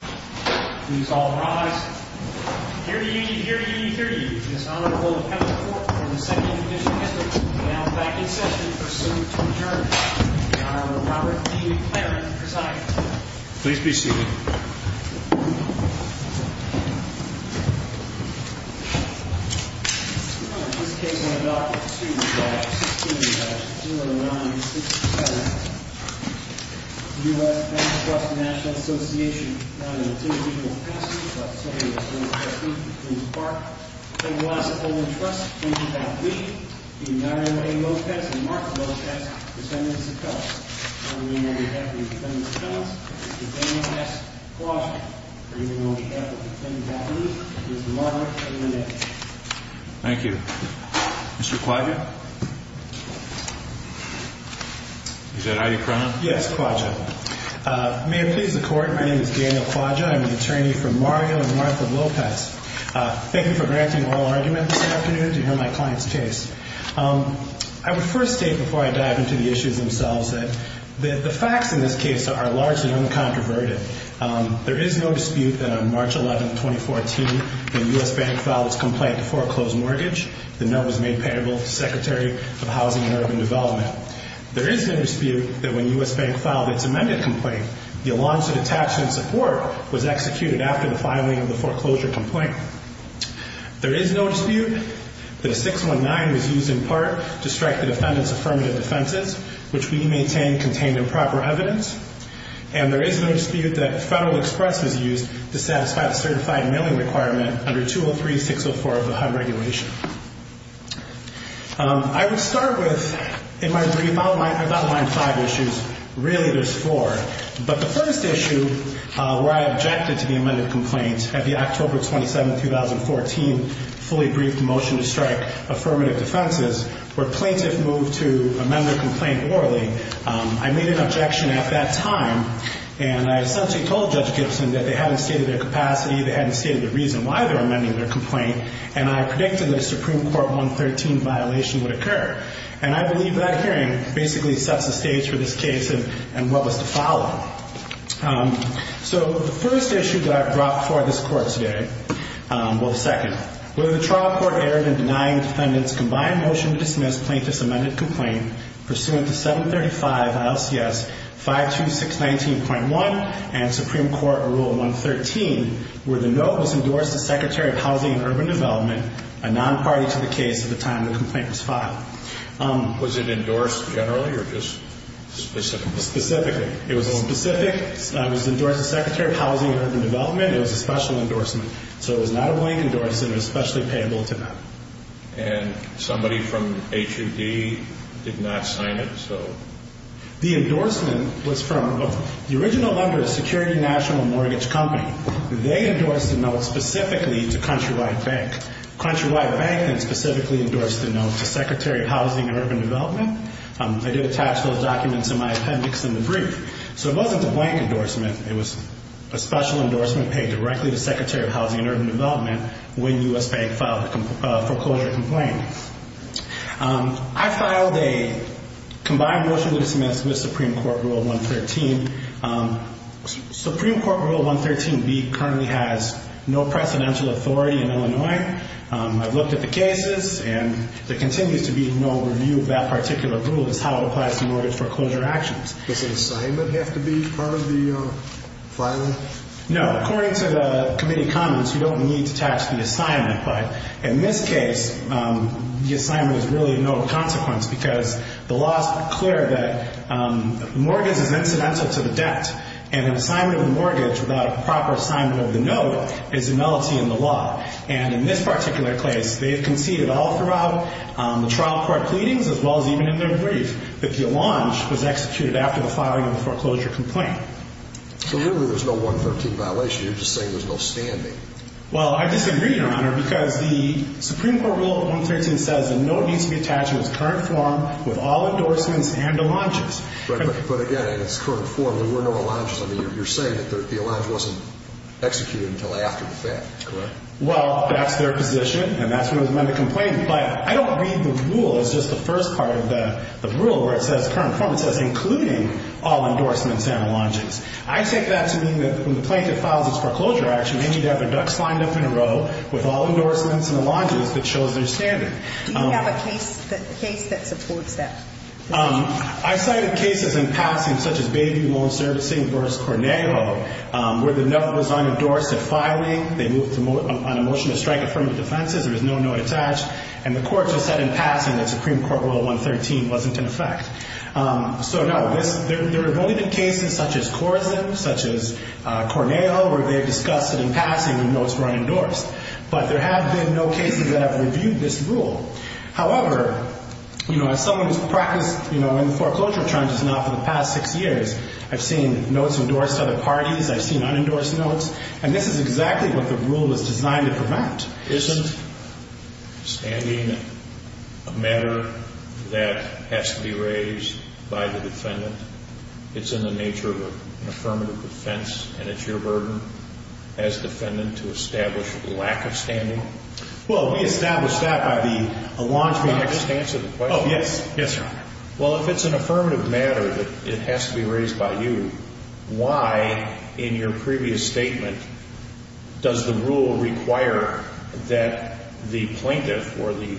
Please all rise. Here to you, here to you, here to you, is the Honorable Kevin Fort from the 2nd Division District, now back in session for soon to adjourn. The Honorable Robert E. Claren, presiding. Please be seated. This case will be adopted as soon as July 16, 2009, 6 to 7. The U.S. Bank Trust National Association, now the 2nd Division of Customs. I would like to say that we are pleased to part with the U.S. Bank Trust in that we, the Honorable A. Lopez and Mark Lopez, defendants of customs. I would like to thank the defendants of customs, Mr. Daniel S. Quaggia, for being on behalf of the defendants of customs. Mr. Robert, take it away. Thank you. Mr. Quaggia? Is that right, Your Honor? Yes, Quaggia. May it please the Court, my name is Daniel Quaggia. I'm an attorney for Mario and Martha Lopez. Thank you for granting oral argument this afternoon to hear my client's case. I would first state, before I dive into the issues themselves, that the facts in this case are largely uncontroverted. There is no dispute that on March 11, 2014, when U.S. Bank filed its complaint to foreclose mortgage, the note was made payable to the Secretary of Housing and Urban Development. There is no dispute that when U.S. Bank filed its amended complaint, the allowance of attachment support was executed after the filing of the foreclosure complaint. There is no dispute that a 619 was used in part to strike the defendants' affirmative defenses, which we maintain contained improper evidence. And there is no dispute that Federal Express was used to satisfy the certified mailing requirement under 203-604 of the HUD regulation. I would start with, in my brief, I'll outline five issues. Really, there's four. But the first issue, where I objected to the amended complaint at the October 27, 2014, fully briefed motion to strike affirmative defenses, where plaintiffs moved to amend the complaint orally, I made an objection at that time, and I essentially told Judge Gibson that they hadn't stated their capacity, they hadn't stated the reason why they were amending their complaint, and I predicted that a Supreme Court 113 violation would occur. And I believe that hearing basically sets the stage for this case and what was to follow. So the first issue that I've brought before this Court today, well, the second, where the trial court erred in denying defendants' combined motion to dismiss plaintiff's amended complaint pursuant to 735 ILCS 52619.1 and Supreme Court Rule 113, where the note was endorsed to Secretary of Housing and Urban Development, a non-party to the case at the time the complaint was filed. Was it endorsed generally or just specifically? Specifically. It was a specific, it was endorsed to Secretary of Housing and Urban Development, it was a special endorsement. So it was not a blank endorsement, it was specially payable to them. And somebody from HUD did not sign it, so? The endorsement was from the original lender, Security National Mortgage Company. They endorsed the note specifically to Countrywide Bank. Countrywide Bank then specifically endorsed the note to Secretary of Housing and Urban Development. I did attach those documents in my appendix in the brief. So it wasn't a blank endorsement, it was a special endorsement paid directly to Secretary of Housing and Urban Development when U.S. Bank filed a foreclosure complaint. I filed a combined motion to dismiss with Supreme Court Rule 113. Supreme Court Rule 113B currently has no precedential authority in Illinois. I've looked at the cases and there continues to be no review of that particular rule as to how it applies to mortgage foreclosure actions. Does an assignment have to be part of the filing? No. According to the committee comments, you don't need to attach the assignment. But in this case, the assignment is really no consequence because the law is clear that mortgage is incidental to the debt. And an assignment of the mortgage without proper assignment of the note is a nullity in the law. And in this particular case, they conceded all throughout the trial court pleadings as well as even in their brief that the allonge was executed after the filing of the foreclosure complaint. So really there's no 113 violation, you're just saying there's no standing. Well, I disagree, Your Honor, because the Supreme Court Rule 113 says the note needs to be attached in its current form with all endorsements and allonges. But again, in its current form, there were no allonges. I mean, you're saying that the allonge wasn't executed until after the fact, correct? Well, that's their position, and that's when it was meant to complain. But I don't read the rule as just the first part of the rule where it says current form. It says including all endorsements and allonges. I take that to mean that when the plaintiff files its foreclosure action, they need to have their ducks lined up in a row with all endorsements and allonges that shows their standing. Do you have a case that supports that? I cited cases in passing such as Bayview Loan Servicing v. Cornejo where the note was unendorsed at filing. They moved on a motion to strike affirmative defenses. There was no note attached. And the court just said in passing that Supreme Court Rule 113 wasn't in effect. So, no, there have only been cases such as Corzine, such as Cornejo, where they discussed it in passing when notes were unendorsed. But there have been no cases that have reviewed this rule. However, you know, as someone who's practiced, you know, in foreclosure charges now for the past six years, I've seen notes endorsed to other parties. I've seen unendorsed notes. And this is exactly what the rule is designed to prevent. Isn't standing a matter that has to be raised by the defendant? It's in the nature of an affirmative defense. And it's your burden as defendant to establish lack of standing. Well, we established that by the allongement. May I just answer the question? Oh, yes. Yes, Your Honor. Well, if it's an affirmative matter that it has to be raised by you, why, in your previous statement, does the rule require that the plaintiff or the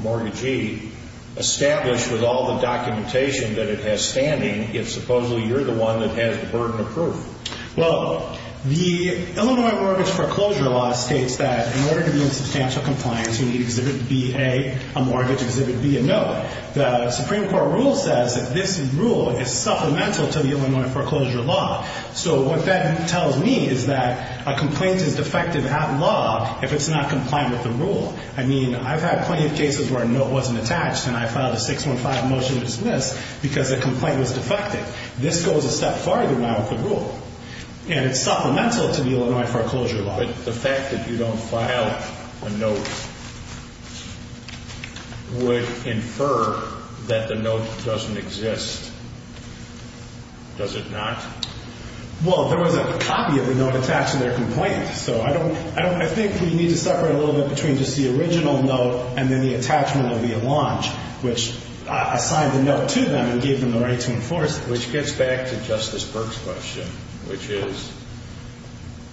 mortgagee establish with all the documentation that it has standing if supposedly you're the one that has the burden of proof? Well, the Illinois Mortgage Foreclosure Law states that in order to be in substantial compliance, you need Exhibit B, A, a mortgage, Exhibit B, a note. The Supreme Court rule says that this rule is supplemental to the Illinois Foreclosure Law. So what that tells me is that a complaint is defective at law if it's not compliant with the rule. I mean, I've had plenty of cases where a note wasn't attached and I filed a 615 motion to dismiss because a complaint was defective. This goes a step farther than that with the rule. And it's supplemental to the Illinois Foreclosure Law. But the fact that you don't file a note would infer that the note doesn't exist, does it not? Well, there was a copy of the note attached to their complaint. So I think we need to separate a little bit between just the original note and then the attachment of the allonge, which assigned the note to them and gave them the right to enforce it. Which gets back to Justice Burke's question, which is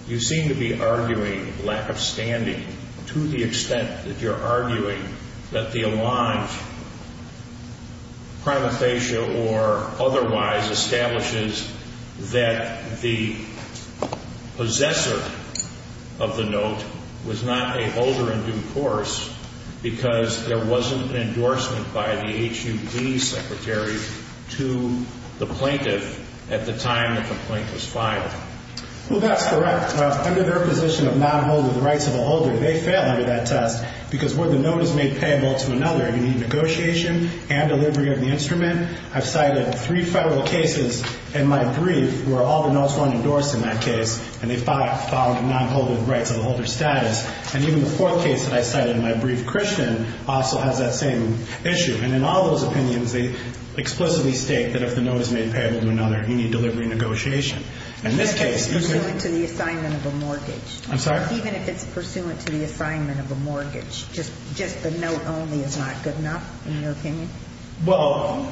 you seem to be arguing lack of standing to the extent that you're arguing that the allonge, prima facie or otherwise, establishes that the possessor of the note was not a holder in due course because there wasn't an endorsement by the HUB secretary to the plaintiff at the time the complaint was filed. Well, that's correct. Under their position of not holding the rights of a holder, they failed under that test because where the note is made payable to another, you need negotiation and delivery of the instrument. I've cited three federal cases in my brief where all the notes weren't endorsed in that case and they filed a non-holding rights of a holder status. And even the fourth case that I cited in my brief, Christian, also has that same issue. And in all those opinions, they explicitly state that if the note is made payable to another, you need delivery and negotiation. In this case, you could – Even if it's pursuant to the assignment of a mortgage. I'm sorry? Even if it's pursuant to the assignment of a mortgage, just the note only is not good enough in your opinion? Well,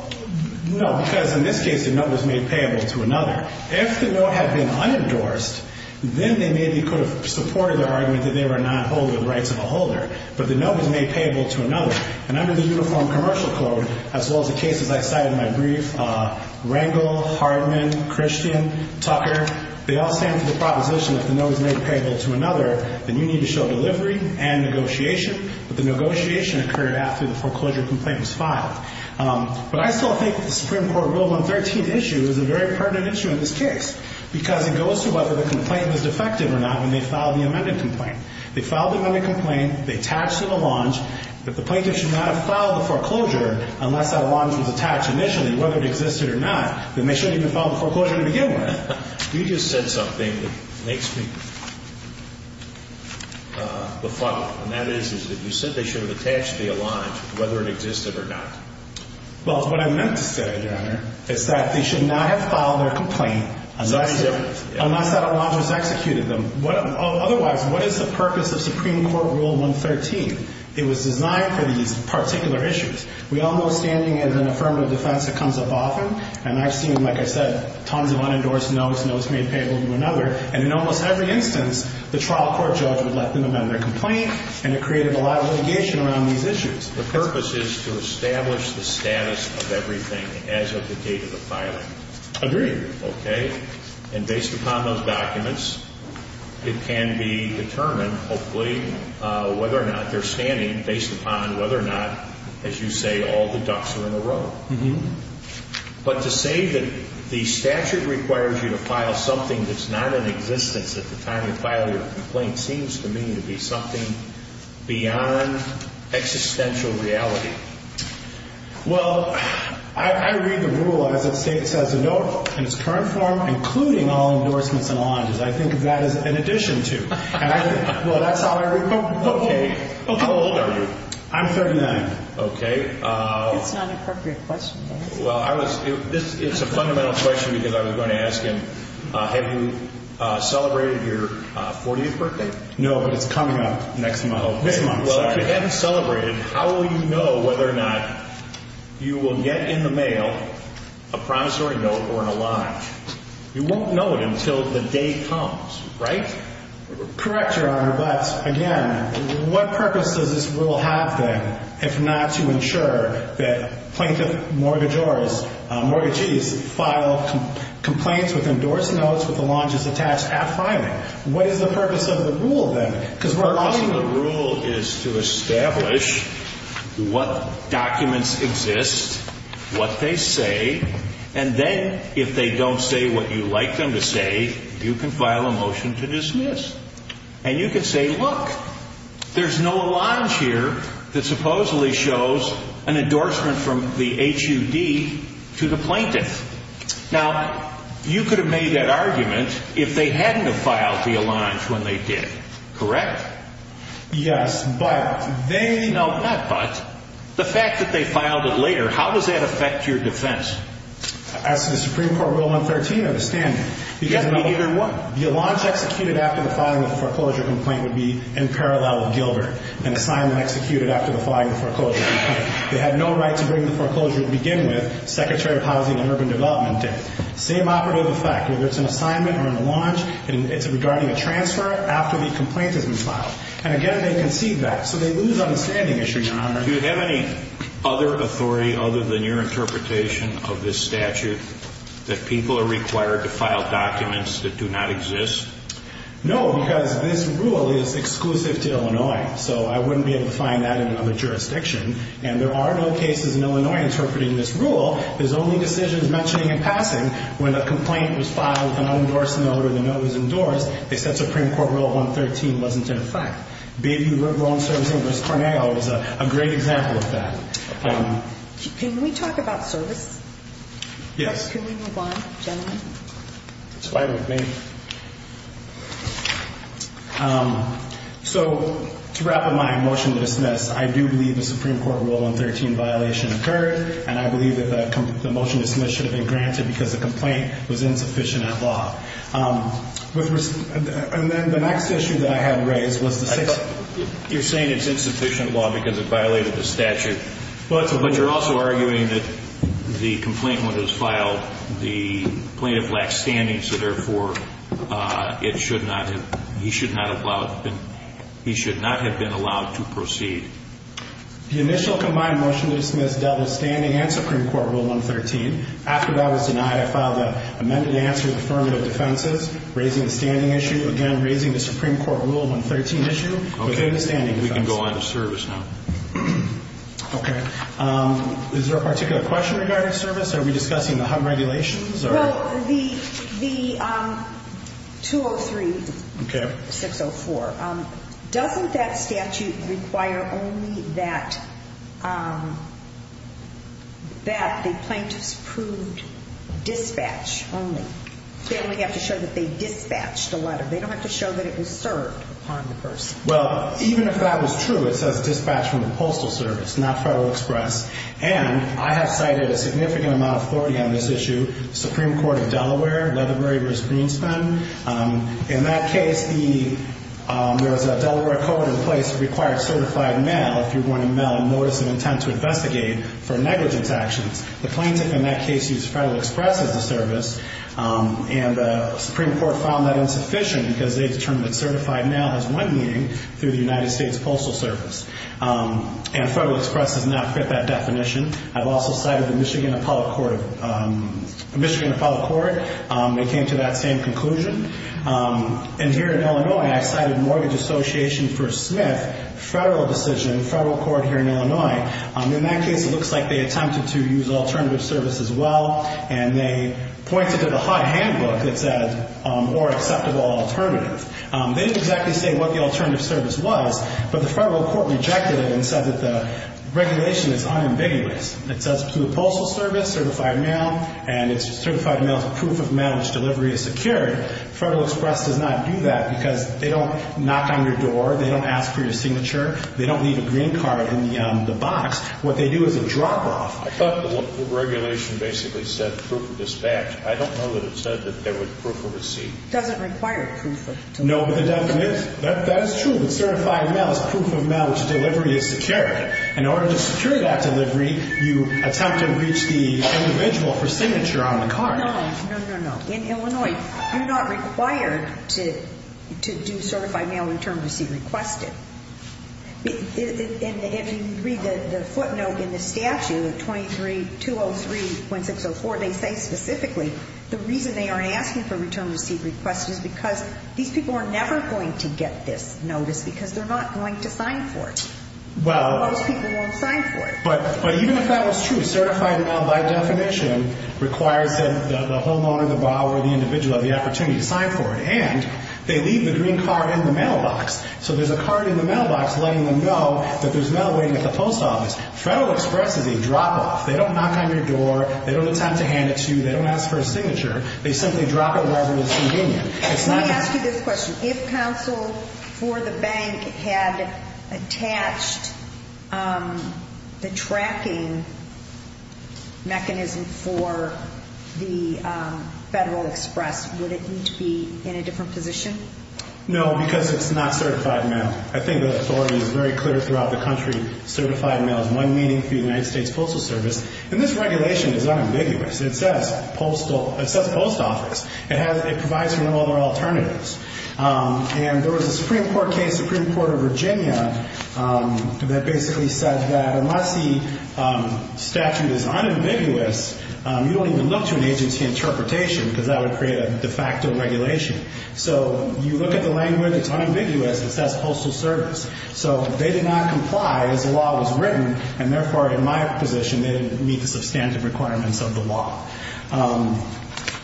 no, because in this case, the note was made payable to another. If the note had been unendorsed, then they maybe could have supported their argument that they were not holding the rights of a holder. But the note was made payable to another. And under the Uniform Commercial Code, as well as the cases I cited in my brief, Rangel, Hardman, Christian, Tucker, they all stand for the proposition that if the note is made payable to another, then you need to show delivery and negotiation. But the negotiation occurred after the foreclosure complaint was filed. But I still think the Supreme Court Rule 113 issue is a very pertinent issue in this case because it goes to whether the complaint was defective or not when they filed the amended complaint. They filed the amended complaint. They attached an allonge. If the plaintiff should not have filed the foreclosure unless that allonge was attached initially, whether it existed or not, then they shouldn't have even filed the foreclosure to begin with. You just said something that makes me befuddled, and that is that you said they should have attached the allonge whether it existed or not. Well, what I meant to say, Your Honor, is that they should not have filed their complaint unless that allonge was executed. Otherwise, what is the purpose of Supreme Court Rule 113? It was designed for these particular issues. We all know standing is an affirmative defense that comes up often, and I've seen, like I said, tons of unendorsed notes, notes made payable to another. And in almost every instance, the trial court judge would let them amend their complaint, and it created a lot of litigation around these issues. The purpose is to establish the status of everything as of the date of the filing. Agreed. Okay? And based upon those documents, it can be determined, hopefully, whether or not they're standing based upon whether or not, as you say, all the ducks are in a row. But to say that the statute requires you to file something that's not in existence at the time you file your complaint seems to me to be something beyond existential reality. Well, I read the rule as it says, a note in its current form, including all endorsements and allonges. I think of that as an addition to. Well, that's how I read it. Okay. How old are you? I'm 39. Okay. That's not an appropriate question. Well, it's a fundamental question because I was going to ask him, have you celebrated your 40th birthday? No, but it's coming up next month. Well, if you haven't celebrated, how will you know whether or not you will get in the mail a promissory note or an allonge? You won't know it until the day comes, right? Correct, Your Honor, but, again, what purpose does this rule have, then, if not to ensure that plaintiff mortgages file complaints with endorsed notes with allonges attached at filing? What is the purpose of the rule, then? Because we're arguing the rule is to establish what documents exist, what they say, and then if they don't say what you like them to say, you can file a motion to dismiss. And you can say, look, there's no allonge here that supposedly shows an endorsement from the HUD to the plaintiff. Now, you could have made that argument if they hadn't have filed the allonge when they did, correct? Yes, but they... No, not but. The fact that they filed it later, how does that affect your defense? As to the Supreme Court Rule 113, I understand. Because neither one. The allonge executed after the filing of the foreclosure complaint would be in parallel with Gilbert, an assignment executed after the filing of the foreclosure complaint. They had no right to bring the foreclosure to begin with, Secretary of Housing and Urban Development did. Same operative effect, whether it's an assignment or an allonge, it's regarding a transfer after the complaint has been filed. And, again, they concede that, so they lose on the standing issue, Your Honor. Do you have any other authority other than your interpretation of this statute that people are required to file documents that do not exist? No, because this rule is exclusive to Illinois, so I wouldn't be able to find that in another jurisdiction. And there are no cases in Illinois interpreting this rule. There's only decisions mentioning in passing when a complaint was filed with an unendorsed note or the note was endorsed. They said Supreme Court Rule 113 wasn't in effect. Baby, the wrong servicing of Miss Cornell is a great example of that. Can we talk about service? Yes. Can we move on, gentlemen? It's fine with me. So to wrap up my motion to dismiss, I do believe the Supreme Court Rule 113 violation occurred, and I believe that the motion to dismiss should have been granted because the complaint was insufficient at law. And then the next issue that I had raised was the sixth. You're saying it's insufficient at law because it violated the statute. But you're also arguing that the complainant, when it was filed, the plaintiff lacked standing, so, therefore, he should not have been allowed to proceed. The initial combined motion to dismiss dealt with standing and Supreme Court Rule 113. After that was denied, I filed an amended answer with affirmative defenses, raising the standing issue, again, raising the Supreme Court Rule 113 issue. Okay. We can go on to service now. Okay. Is there a particular question regarding service? Are we discussing the HUD regulations? Well, the 203-604, doesn't that statute require only that the plaintiffs proved dispatch only? They only have to show that they dispatched a letter. They don't have to show that it was served upon the person. Well, even if that was true, it says dispatch from the Postal Service, not Federal Express. And I have cited a significant amount of authority on this issue, Supreme Court of Delaware, Leatherbury v. Greenspan. In that case, there was a Delaware code in place that required certified mail, if you're going to mail a notice of intent to investigate for negligence actions. The plaintiff in that case used Federal Express as the service, and the Supreme Court found that insufficient because they determined that certified mail has one meaning, through the United States Postal Service. And Federal Express does not fit that definition. I've also cited the Michigan Appellate Court. They came to that same conclusion. And here in Illinois, I cited Mortgage Association v. Smith, federal decision, federal court here in Illinois. In that case, it looks like they attempted to use alternative service as well, and they pointed to the HUD handbook that said more acceptable alternative. They didn't exactly say what the alternative service was, but the federal court rejected it and said that the regulation is unambiguous. It says to the Postal Service, certified mail, and it's certified mail, proof of mail, which delivery is secured. Federal Express does not do that because they don't knock on your door. They don't ask for your signature. They don't leave a green card in the box. What they do is a drop-off. I thought the regulation basically said proof of dispatch. I don't know that it said that there was proof of receipt. It doesn't require proof of delivery. No, but it definitely is. That is true that certified mail is proof of mail, which delivery is secured. In order to secure that delivery, you attempt to reach the individual for signature on the card. No, no, no, no. In Illinois, you're not required to do certified mail return receipt requested. If you read the footnote in the statute, 23203.604, they say specifically the reason they are asking for return receipt requested is because these people are never going to get this notice because they're not going to sign for it. Well. Those people won't sign for it. But even if that was true, certified mail by definition requires that the homeowner, the borrower, the individual have the opportunity to sign for it. And they leave the green card in the mailbox. So there's a card in the mailbox letting them know that there's mail waiting at the post office. Federal Express is a drop-off. They don't knock on your door. They don't ask for a signature. They simply drop it wherever it's convenient. Let me ask you this question. If counsel for the bank had attached the tracking mechanism for the Federal Express, would it need to be in a different position? No, because it's not certified mail. I think the authority is very clear throughout the country. Certified mail is one meeting through the United States Postal Service. And this regulation is unambiguous. It says postal. It says post office. It provides for no other alternatives. And there was a Supreme Court case, the Supreme Court of Virginia, that basically said that unless the statute is unambiguous, you don't even look to an agency interpretation because that would create a de facto regulation. So you look at the language, it's unambiguous, it says postal service. So they did not comply as the law was written, and therefore, in my position, they didn't meet the substantive requirements of the law.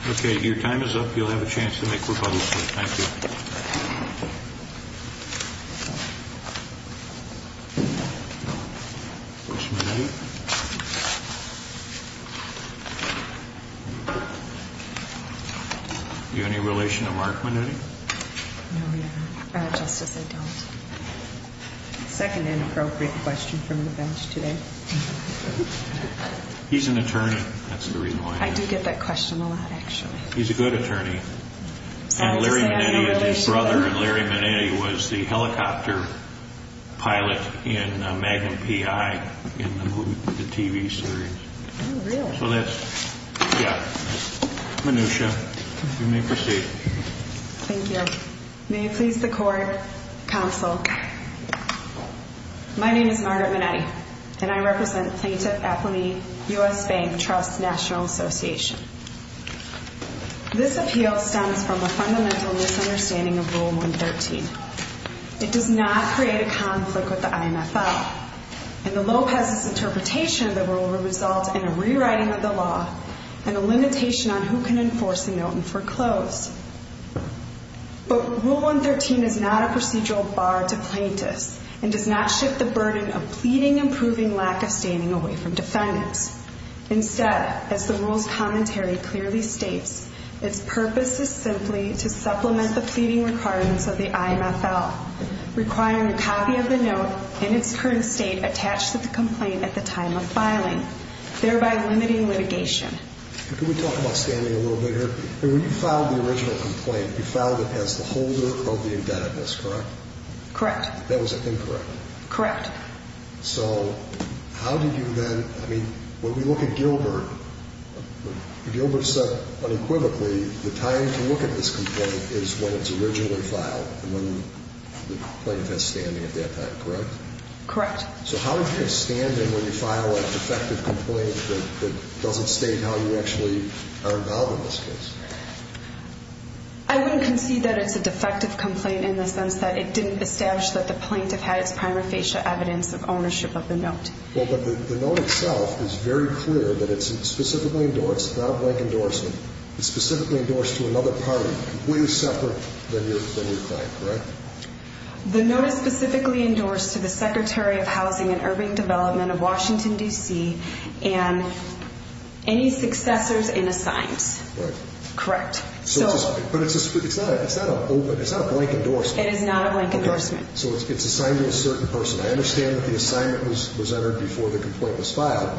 Okay. Your time is up. You'll have a chance to make rebuttals. Thank you. Do you have any relation to Mark Minuti? No, Your Honor. Justice, I don't. Second inappropriate question from the bench today. He's an attorney. That's the reason why. I do get that question a lot, actually. He's a good attorney. And Larry Minetti is his brother, and Larry Minetti was the helicopter pilot in Magnum P.I. in the TV series. Oh, really? So that's, yeah, Minutia. You may proceed. Thank you. Your Honor, may it please the Court, Counsel, my name is Margaret Minetti, and I represent Plaintiff Appellee U.S. Bank Trust National Association. This appeal stems from a fundamental misunderstanding of Rule 113. It does not create a conflict with the IMFL, and the Lopez's interpretation of the rule would result in a rewriting of the law and a limitation on who can enforce the note and foreclose. But Rule 113 is not a procedural bar to plaintiffs and does not shift the burden of pleading and proving lack of standing away from defendants. Instead, as the rule's commentary clearly states, its purpose is simply to supplement the pleading requirements of the IMFL, requiring a copy of the note in its current state attached to the complaint at the time of filing, thereby limiting litigation. Can we talk about standing a little bit here? When you filed the original complaint, you filed it as the holder of the indebtedness, correct? Correct. That was incorrect. Correct. So how did you then, I mean, when we look at Gilbert, Gilbert said unequivocally the time to look at this complaint is when it's originally filed and when the plaintiff has standing at that time, correct? Correct. So how did you get standing when you file a defective complaint that doesn't state how you actually are involved in this case? I wouldn't concede that it's a defective complaint in the sense that it didn't establish that the plaintiff had its prima facie evidence of ownership of the note. Well, but the note itself is very clear that it's specifically endorsed, not a blank endorsement, it's specifically endorsed to another party, way separate than your client, correct? The note is specifically endorsed to the Secretary of Housing and Urban Development of Washington, D.C., and any successors in assigns. Correct. Correct. But it's not a blank endorsement. It is not a blank endorsement. So it's assigned to a certain person. I understand that the assignment was entered before the complaint was filed,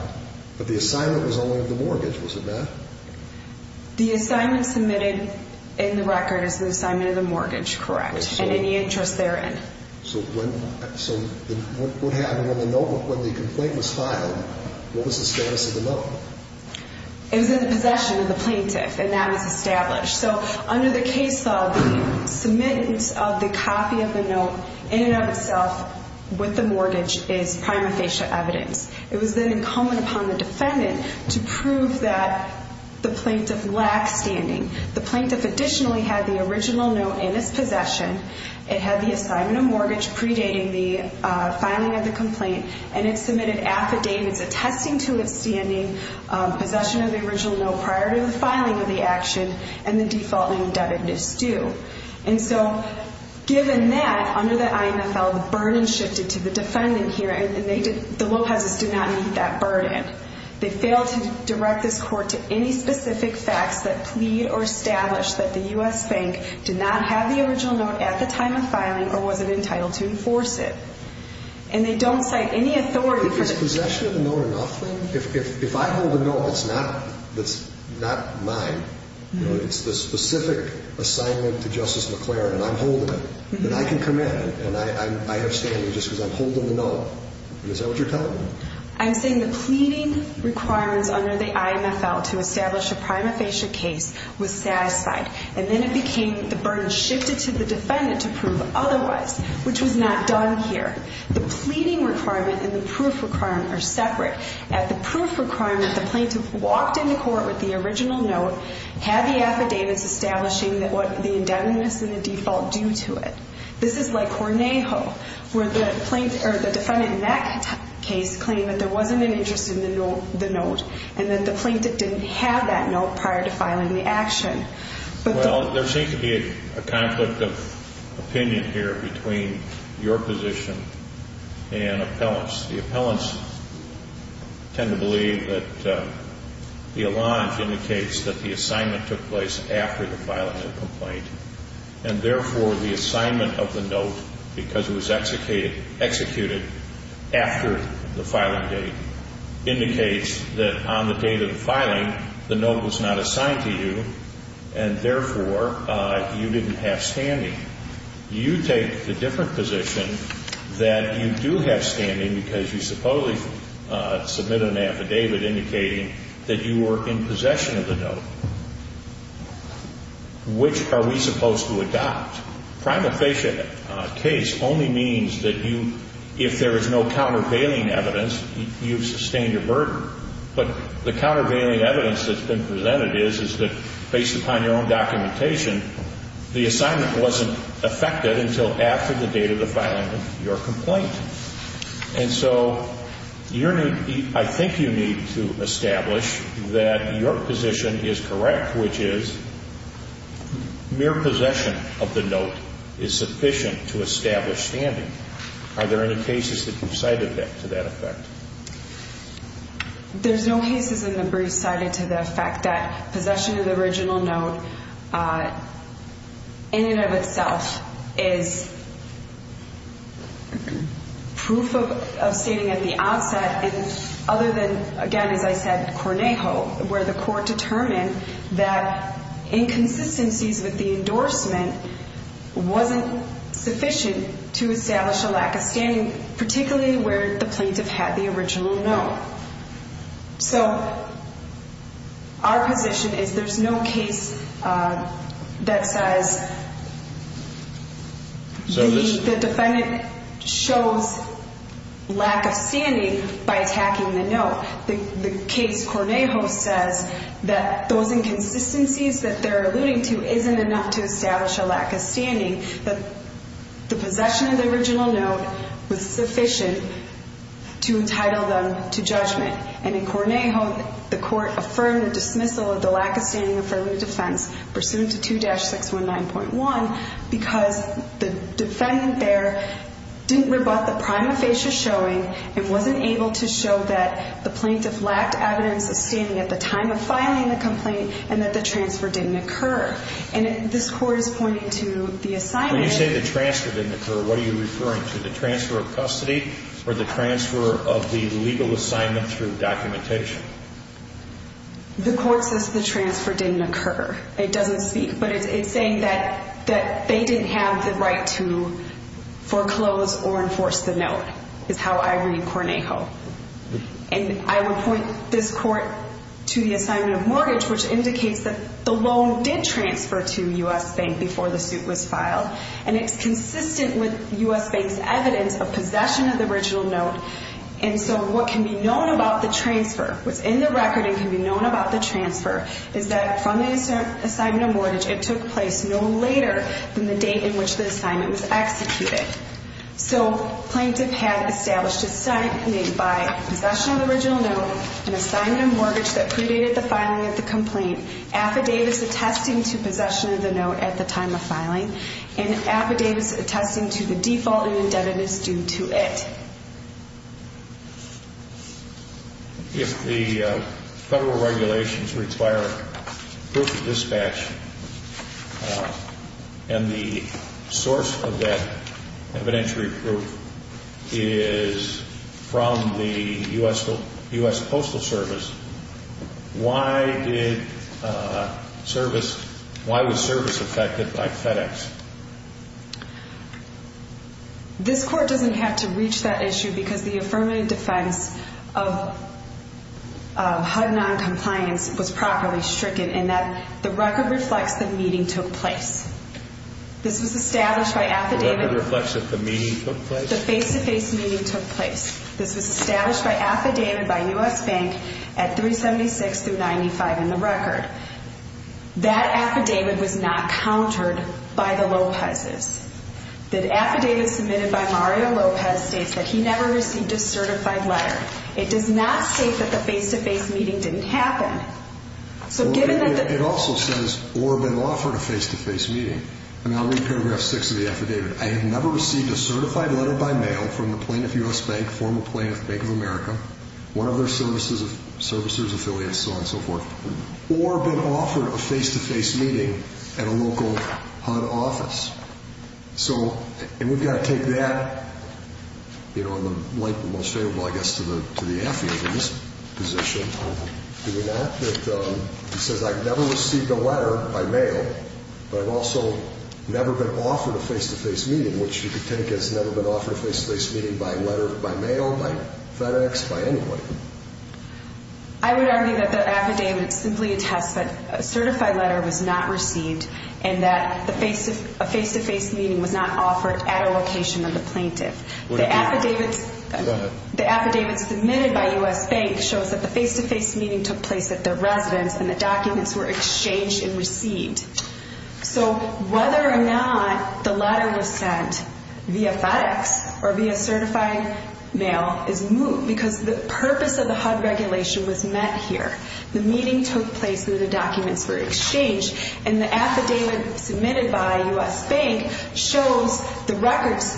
but the assignment was only of the mortgage, was it not? The assignment submitted in the record is the assignment of the mortgage, correct. And any interest therein. So what happened when the complaint was filed, what was the status of the note? It was in the possession of the plaintiff, and that was established. So under the case law, the submittance of the copy of the note in and of itself with the mortgage is prima facie evidence. It was then incumbent upon the defendant to prove that the plaintiff lacked standing. The plaintiff additionally had the original note in its possession. It had the assignment of mortgage predating the filing of the complaint, and it submitted affidavits attesting to its standing, possession of the original note prior to the filing of the action, and the default in indebtedness due. And so given that, under the IMFL, the burden shifted to the defendant here, and the Lopez's did not meet that burden. They failed to direct this court to any specific facts that plead or establish that the U.S. Bank did not have the original note at the time of filing or wasn't entitled to enforce it. And they don't cite any authority for the... If it's possession of the note or nothing, if I hold the note, it's not mine. It's the specific assignment to Justice McClaren, and I'm holding it. And I can come in, and I have standing just because I'm holding the note. Is that what you're telling me? I'm saying the pleading requirements under the IMFL to establish a prima facie case was satisfied, and then it became the burden shifted to the defendant to prove otherwise, which was not done here. The pleading requirement and the proof requirement are separate. At the proof requirement, the plaintiff walked into court with the original note, had the affidavits establishing what the indebtedness and the default do to it. This is like Hornejo, where the defendant in that case claimed that there wasn't an interest in the note and that the plaintiff didn't have that note prior to filing the action. Well, there seems to be a conflict of opinion here between your position and appellants. The appellants tend to believe that the alliance indicates that the assignment took place after the filing of the complaint, and, therefore, the assignment of the note, because it was executed after the filing date, indicates that on the date of the filing, the note was not assigned to you, and, therefore, you didn't have standing. You take the different position that you do have standing because you supposedly submitted an affidavit indicating that you were in possession of the note. Which are we supposed to adopt? Prima facie case only means that you, if there is no countervailing evidence, you've sustained your burden. But the countervailing evidence that's been presented is that, based upon your own documentation, the assignment wasn't affected until after the date of the filing of your complaint. And so I think you need to establish that your position is correct, which is mere possession of the note is sufficient to establish standing. Are there any cases that you've cited to that effect? There's no cases in the brief cited to the effect that possession of the original note in and of itself is proof of standing at the onset, other than, again, as I said, Cornejo, where the court determined that inconsistencies with the endorsement wasn't sufficient to establish a lack of standing, particularly where the plaintiff had the original note. So our position is there's no case that says the defendant shows lack of standing by attacking the note. The case Cornejo says that those inconsistencies that they're alluding to isn't enough to establish a lack of standing, that the possession of the original note was sufficient to entitle them to judgment. And in Cornejo, the court affirmed the dismissal of the lack of standing affirmative defense pursuant to 2-619.1 because the defendant there didn't rebut the prima facie showing, it wasn't able to show that the plaintiff lacked evidence of standing at the time of filing the complaint, and that the transfer didn't occur. And this court is pointing to the assignment. When you say the transfer didn't occur, what are you referring to? The transfer of custody or the transfer of the legal assignment through documentation? The court says the transfer didn't occur. It doesn't speak, but it's saying that they didn't have the right to foreclose or enforce the note is how I read Cornejo. And I would point this court to the assignment of mortgage, which indicates that the loan did transfer to U.S. Bank before the suit was filed. And it's consistent with U.S. Bank's evidence of possession of the original note. And so what can be known about the transfer, what's in the record and can be known about the transfer, is that from the assignment of mortgage, it took place no later than the date in which the assignment was executed. So plaintiff had established a sign made by possession of the original note, an assignment of mortgage that predated the filing of the complaint, affidavits attesting to possession of the note at the time of filing, and affidavits attesting to the default and indebtedness due to it. If the federal regulations require proof of dispatch and the source of that evidentiary proof is from the U.S. Postal Service, why did service, why was service affected by FedEx? This court doesn't have to reach that issue because the affirmative defense of HUD noncompliance was properly stricken in that the record reflects the meeting took place. This was established by affidavit. The record reflects that the meeting took place? The face-to-face meeting took place. This was established by affidavit by U.S. Bank at 376 through 95 in the record. That affidavit was not countered by the Lopez's. The affidavit submitted by Mario Lopez states that he never received a certified letter. It does not state that the face-to-face meeting didn't happen. So given that the... It also says, or been offered a face-to-face meeting. And I'll read paragraph six of the affidavit. I have never received a certified letter by mail from the plaintiff U.S. Bank, former plaintiff Bank of America, one of their services, servicers, affiliates, so on and so forth. Or been offered a face-to-face meeting at a local HUD office. So, and we've got to take that, you know, in the light of the most favorable, I guess, to the affidavit in this position, do we not? It says I never received a letter by mail, but I've also never been offered a face-to-face meeting, which you could take as never been offered a face-to-face meeting by letter, by mail, by FedEx, by anybody. I would argue that the affidavit simply attests that a certified letter was not received and that a face-to-face meeting was not offered at a location of the plaintiff. The affidavit submitted by U.S. Bank shows that the face-to-face meeting took place at their residence and the documents were exchanged and received. So whether or not the letter was sent via FedEx or via certified mail is moot because the purpose of the HUD regulation was met here. The meeting took place where the documents were exchanged and the affidavit submitted by U.S. Bank shows the records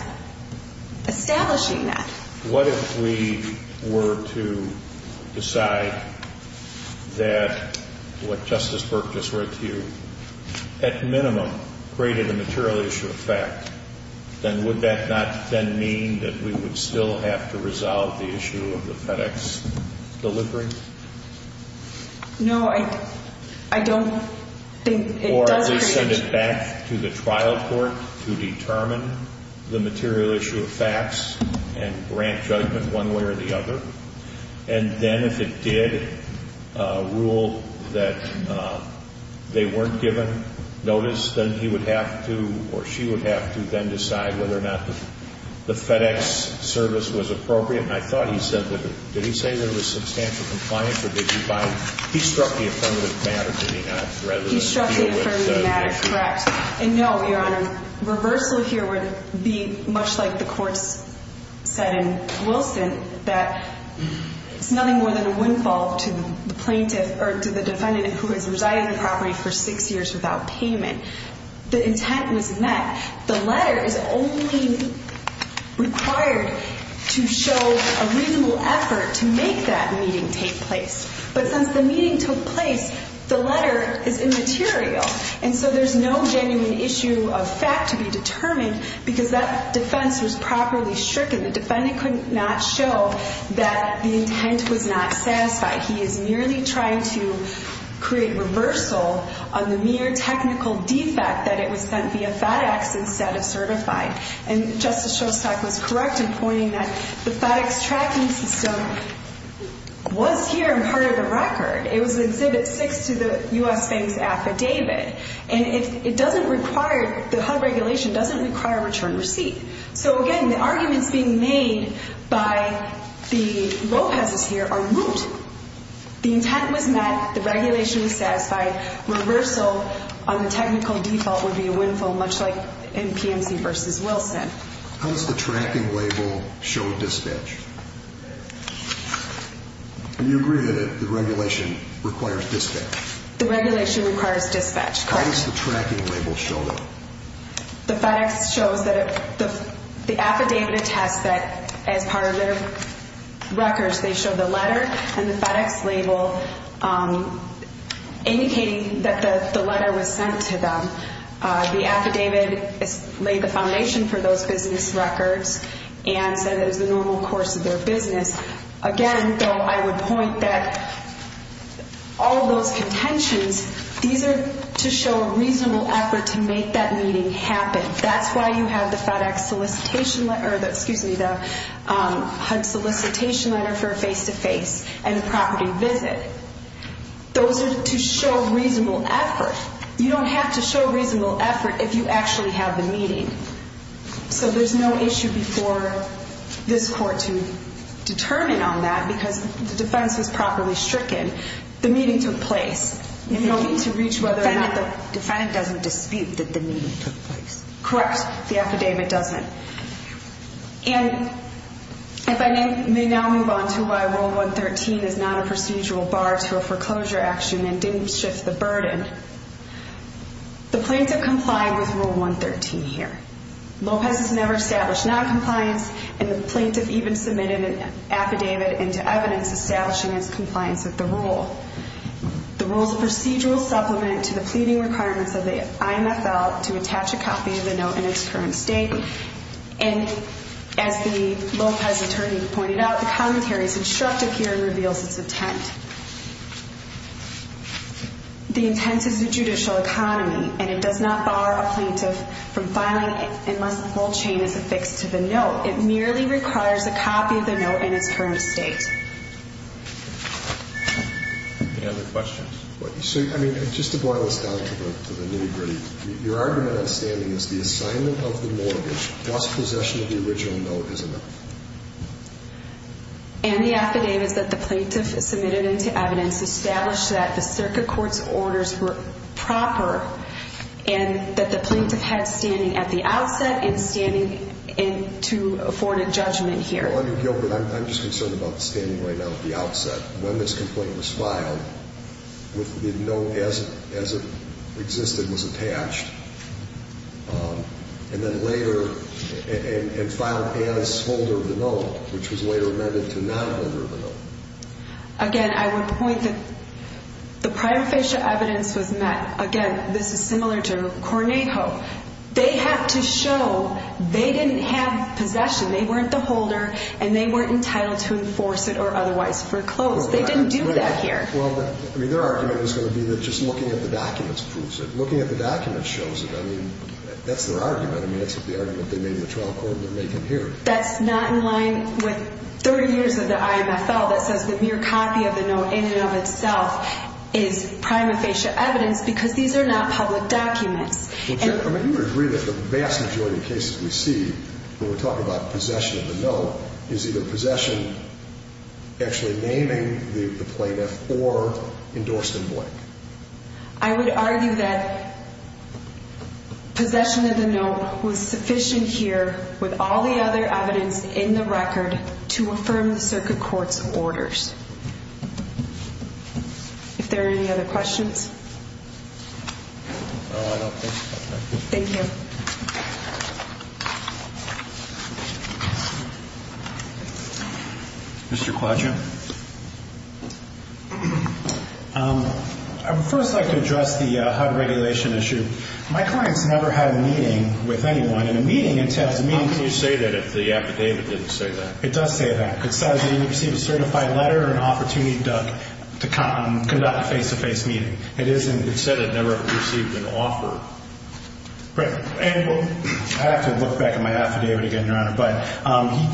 establishing that. What if we were to decide that what Justice Burke just read to you, at minimum, created a material issue of fact, then would that not then mean that we would still have to resolve the issue of the FedEx delivery? No, I don't think it does create a issue. Or at least send it back to the trial court to determine the material issue of facts and grant judgment one way or the other. And then if it did rule that they weren't given notice, then he would have to or she would have to then decide whether or not the FedEx service was appropriate. And I thought he said that it was substantial compliance or did he buy it? He struck the affirmative matter, did he not? He struck the affirmative matter, correct. And no, Your Honor, reversal here would be much like the courts said in Wilson, that it's nothing more than a windfall to the plaintiff or to the defendant who has resided on the property for six years without payment. The intent was met. The letter is only required to show a reasonable effort to make that meeting take place. But since the meeting took place, the letter is immaterial. And so there's no genuine issue of fact to be determined because that defense was properly stricken. The defendant could not show that the intent was not satisfied. He is merely trying to create reversal on the mere technical defect that it was sent via FedEx instead of certified. And Justice Shostak was correct in pointing that the FedEx tracking system was here and part of the record. It was Exhibit 6 to the U.S. Bank's affidavit. And it doesn't require the HUD regulation doesn't require return receipt. So, again, the arguments being made by the Lopez's here are moot. The intent was met. The regulation was satisfied. Reversal on the technical default would be a windfall, much like in PMC v. Wilson. How does the tracking label show dispatch? Do you agree that the regulation requires dispatch? The regulation requires dispatch. How does the tracking label show that? The FedEx shows that the affidavit attests that as part of their records, they show the letter and the FedEx label indicating that the letter was sent to them. The affidavit laid the foundation for those business records and said it was the normal course of their business. Again, though, I would point that all of those contentions, these are to show a reasonable effort to make that meeting happen. That's why you have the FedEx solicitation or, excuse me, the HUD solicitation letter for a face-to-face and a property visit. Those are to show reasonable effort. You don't have to show reasonable effort if you actually have the meeting. So there's no issue before this court to determine on that because the defense was properly stricken. The meeting took place in order to reach whether or not the defendant doesn't dispute that the meeting took place. Correct. The affidavit doesn't. And if I may now move on to why Rule 113 is not a procedural bar to a foreclosure action and didn't shift the burden, the plaintiff complied with Rule 113 here. Lopez has never established noncompliance, and the plaintiff even submitted an affidavit into evidence establishing its compliance with the rule. The rule is a procedural supplement to the pleading requirements of the IMFL to attach a copy of the note in its current statement. And as the Lopez attorney pointed out, the commentary is instructive here and reveals its intent. The intent is a judicial economy, and it does not bar a plaintiff from filing unless the whole chain is affixed to the note. It merely requires a copy of the note in its current state. Any other questions? So, I mean, just to boil us down to the nitty-gritty, your argument on standing is the assignment of the mortgage plus possession of the original note is enough. And the affidavit that the plaintiff submitted into evidence established that the circuit court's orders were proper and that the plaintiff had standing at the outset and standing to afford a judgment here. Well, I mean, Gilbert, I'm just concerned about the standing right now at the outset. The plaintiff's complaint was filed. The note as it existed was attached. And then later, and filed as holder of the note, which was later amended to nonholder of the note. Again, I would point that the prior facial evidence was met. Again, this is similar to Cornejo. They have to show they didn't have possession. They weren't the holder, and they weren't entitled to enforce it or otherwise foreclose. They didn't do that here. Well, I mean, their argument is going to be that just looking at the documents proves it. Looking at the documents shows it. I mean, that's their argument. I mean, that's the argument they made in the trial court that they can hear. That's not in line with 30 years of the IMFL that says the mere copy of the note in and of itself is prima facie evidence because these are not public documents. I mean, you would agree that the vast majority of cases we see when we're talking about possession of the note is either possession, actually naming the plaintiff, or endorsed in blank. I would argue that possession of the note was sufficient here with all the other evidence in the record to affirm the circuit court's orders. If there are any other questions? No, I don't think so. Thank you. Mr. Quaggio? I would first like to address the HUD regulation issue. My clients never had a meeting with anyone, and a meeting entails a meeting. How can you say that if the affidavit didn't say that? It does say that. It says that you received a certified letter and opportunity to conduct a face-to-face meeting. It said it never received an offer. I have to look back at my affidavit again, Your Honor, but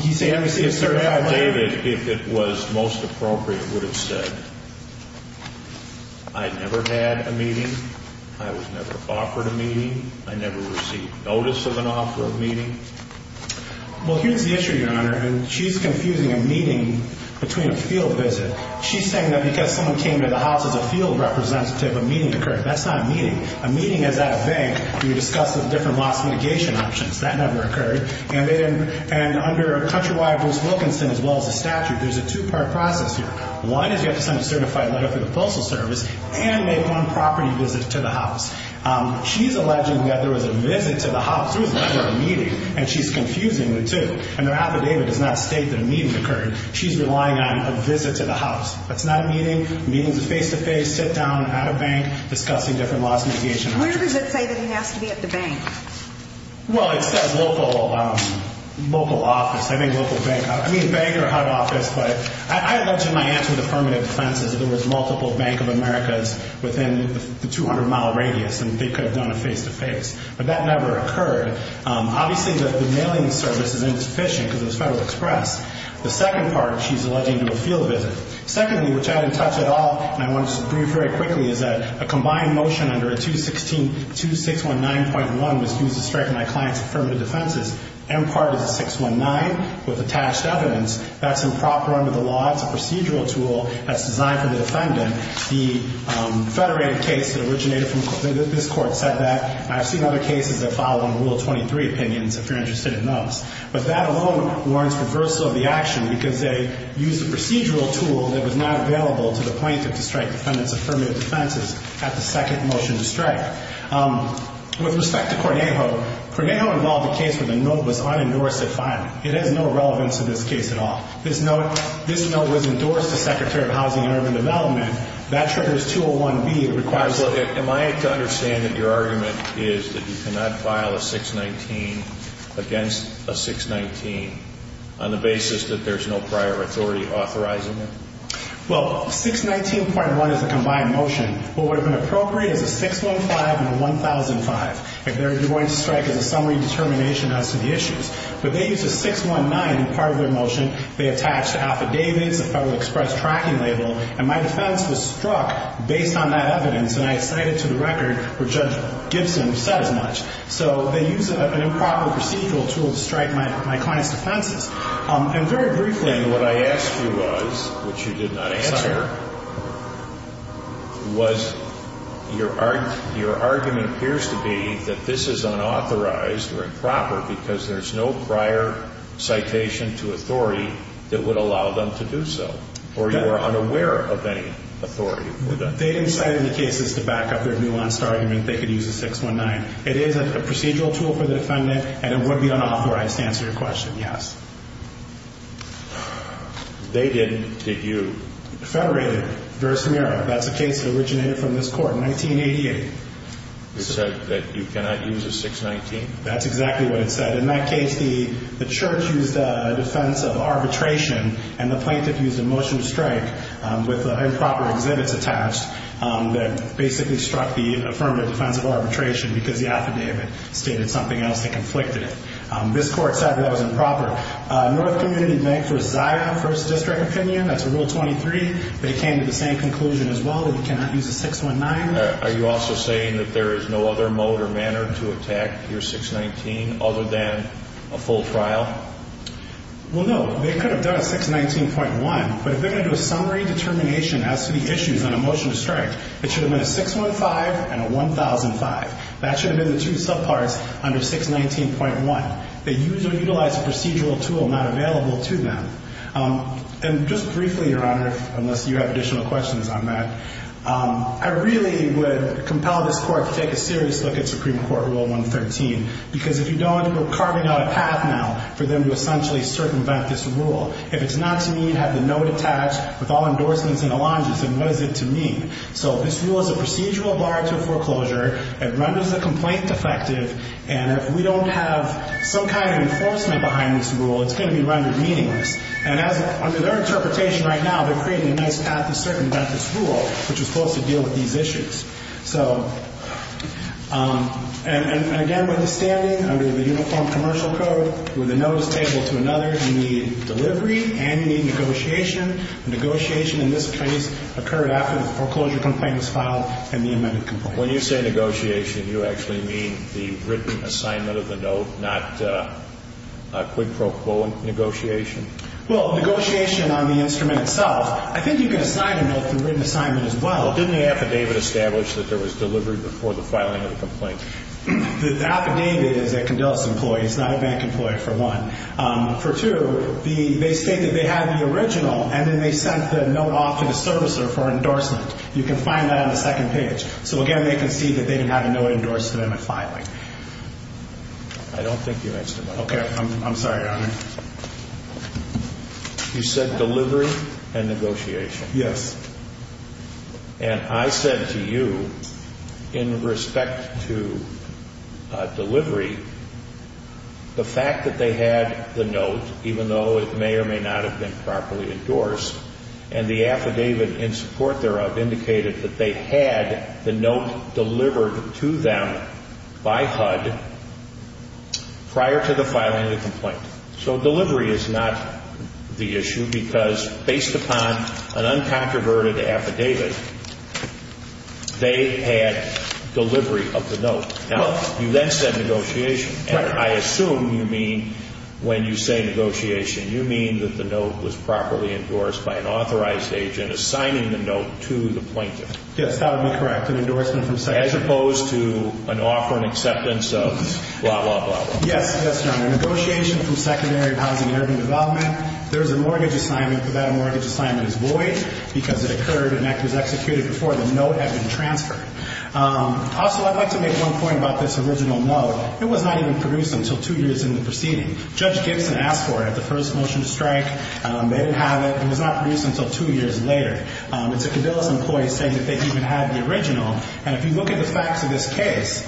he said he received a certified letter. If it was most appropriate, it would have said, I never had a meeting. I was never offered a meeting. I never received notice of an offer of meeting. Well, here's the issue, Your Honor, and she's confusing a meeting between a field visit. She's saying that because someone came to the house as a field representative, a meeting occurred. That's not a meeting. A meeting is at a bank, and you discuss the different loss mitigation options. That never occurred. And under Countrywide Bruce Wilkinson, as well as the statute, there's a two-part process here. One is you have to send a certified letter through the Postal Service and make one property visit to the house. She's alleging that there was a visit to the house. There was never a meeting. And she's confusing the two. And her affidavit does not state that a meeting occurred. She's relying on a visit to the house. That's not a meeting. A meeting is a face-to-face sit-down at a bank discussing different loss mitigation options. Where does it say that he has to be at the bank? Well, it says local office. I think local bank. I mean bank or HUD office. But I allege in my answer to affirmative defense that there was multiple Bank of Americas within the 200-mile radius, and they could have done a face-to-face. But that never occurred. Obviously, the mailing service is insufficient because it was Federal Express. The second part she's alleging to a field visit. Secondly, which I didn't touch at all, and I want to just brief very quickly, is that a combined motion under 2619.1 was used to strike my client's affirmative defenses. M-part is 619 with attached evidence. That's improper under the law. It's a procedural tool that's designed for the defendant. The federated case that originated from this court said that. I've seen other cases that filed under Rule 23 opinions. If you're interested, it knows. But that alone warrants reversal of the action because they used a procedural tool that was not available to the plaintiff to strike the defendant's affirmative defenses at the second motion to strike. With respect to Cornejo, Cornejo involved a case where the note was unendorsed at filing. It has no relevance to this case at all. This note was endorsed to Secretary of Housing and Urban Development. That triggers 201B. Am I to understand that your argument is that you cannot file a 619 against a 619 on the basis that there's no prior authority authorizing it? Well, 619.1 is a combined motion. What would have been appropriate is a 615 and a 1005. They're going to strike as a summary determination as to the issues. But they used a 619 in part of their motion. They attached affidavits, a Federal Express tracking label. And my defense was struck based on that evidence. And I cited to the record what Judge Gibson said as much. So they used an improper procedural tool to strike my client's defenses. And very briefly, what I asked you was, which you did not answer, was your argument appears to be that this is unauthorized or improper because there's no prior citation to authority that would allow them to do so? Or you are unaware of any authority for that? They didn't cite any cases to back up their nuanced argument that they could use a 619. It is a procedural tool for the defendant, and it would be unauthorized to answer your question, yes. They didn't. Did you? Federated. That's a case that originated from this court in 1988. It said that you cannot use a 619? That's exactly what it said. In that case, the church used a defense of arbitration, and the plaintiff used a motion to strike with improper exhibits attached that basically struck the affirmative defense of arbitration because the affidavit stated something else that conflicted it. This court said that was improper. North Community Bank for Zion, First District opinion, that's a Rule 23. They came to the same conclusion as well that you cannot use a 619. Are you also saying that there is no other mode or manner to attack your 619 other than a full trial? Well, no. They could have done a 619.1, but if they're going to do a summary determination as to the issues on a motion to strike, it should have been a 615 and a 1005. That should have been the two subparts under 619.1. They used or utilized a procedural tool not available to them. And just briefly, Your Honor, unless you have additional questions on that, I really would compel this court to take a serious look at Supreme Court Rule 113 because if you don't, we're carving out a path now for them to essentially circumvent this rule. If it's not to me, you have the note attached with all endorsements and allonges, then what is it to me? So this rule is a procedural bar to a foreclosure. It renders the complaint defective. And if we don't have some kind of enforcement behind this rule, it's going to be rendered meaningless. And under their interpretation right now, they're creating a nice path to circumvent this rule, which is supposed to deal with these issues. So, and again, with the standing under the Uniform Commercial Code, with the notice tabled to another, you need delivery and you need negotiation. Negotiation in this case occurred after the foreclosure complaint was filed and the amended complaint. When you say negotiation, you actually mean the written assignment of the note, not a quid pro quo negotiation? Well, negotiation on the instrument itself. I think you can assign a note through written assignment as well. Didn't the affidavit establish that there was delivery before the filing of the complaint? The affidavit is a condolence employee. It's not a bank employee, for one. For two, they state that they had the original and then they sent the note off to the servicer for endorsement. You can find that on the second page. So, again, they concede that they had a note endorsed to them at filing. I don't think you answered my question. Okay. I'm sorry, Your Honor. You said delivery and negotiation. Yes. And I said to you, in respect to delivery, the fact that they had the note, even though it may or may not have been properly endorsed, and the affidavit in support thereof indicated that they had the note delivered to them by HUD prior to the filing of the complaint. So delivery is not the issue because, based upon an uncontroverted affidavit, they had delivery of the note. Now, you then said negotiation. And I assume you mean, when you say negotiation, you mean that the note was properly endorsed by an authorized agent assigning the note to the plaintiff. Yes, that would be correct, an endorsement from secondary. As opposed to an offer and acceptance of blah, blah, blah, blah. Yes, yes, Your Honor. Negotiation from secondary housing and urban development. There is a mortgage assignment, but that mortgage assignment is void because it occurred and that was executed before the note had been transferred. Also, I'd like to make one point about this original note. It was not even produced until two years into the proceeding. Judge Gibson asked for it at the first motion to strike. They didn't have it. It was not produced until two years later. It's a Cadillus employee saying that they even had the original. And if you look at the facts of this case,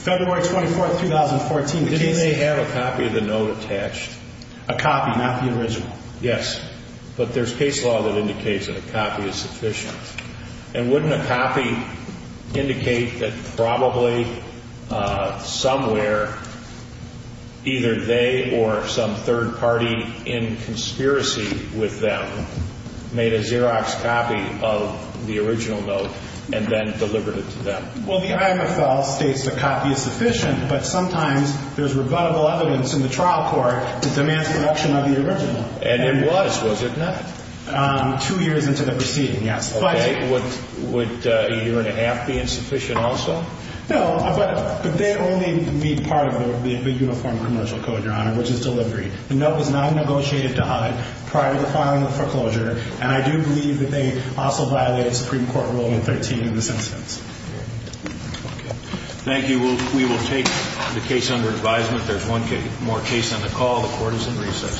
February 24th, 2014, the case… Didn't they have a copy of the note attached? A copy, not the original. Yes, but there's case law that indicates that a copy is sufficient. And wouldn't a copy indicate that probably somewhere either they or some third party in conspiracy with them made a Xerox copy of the original note and then delivered it to them? Well, the IMFL states the copy is sufficient, but sometimes there's rebuttable evidence in the trial court that demands production of the original. And it was, was it not? Two years into the proceeding, yes. Okay. Would a year and a half be insufficient also? No, but they only need part of the uniform commercial code, Your Honor, which is delivery. The note was not negotiated to HUD prior to filing the foreclosure. And I do believe that they also violated Supreme Court Rule 113 in this instance. Okay. Thank you. We will take the case under advisement. There's one more case on the call. The Court is in recess.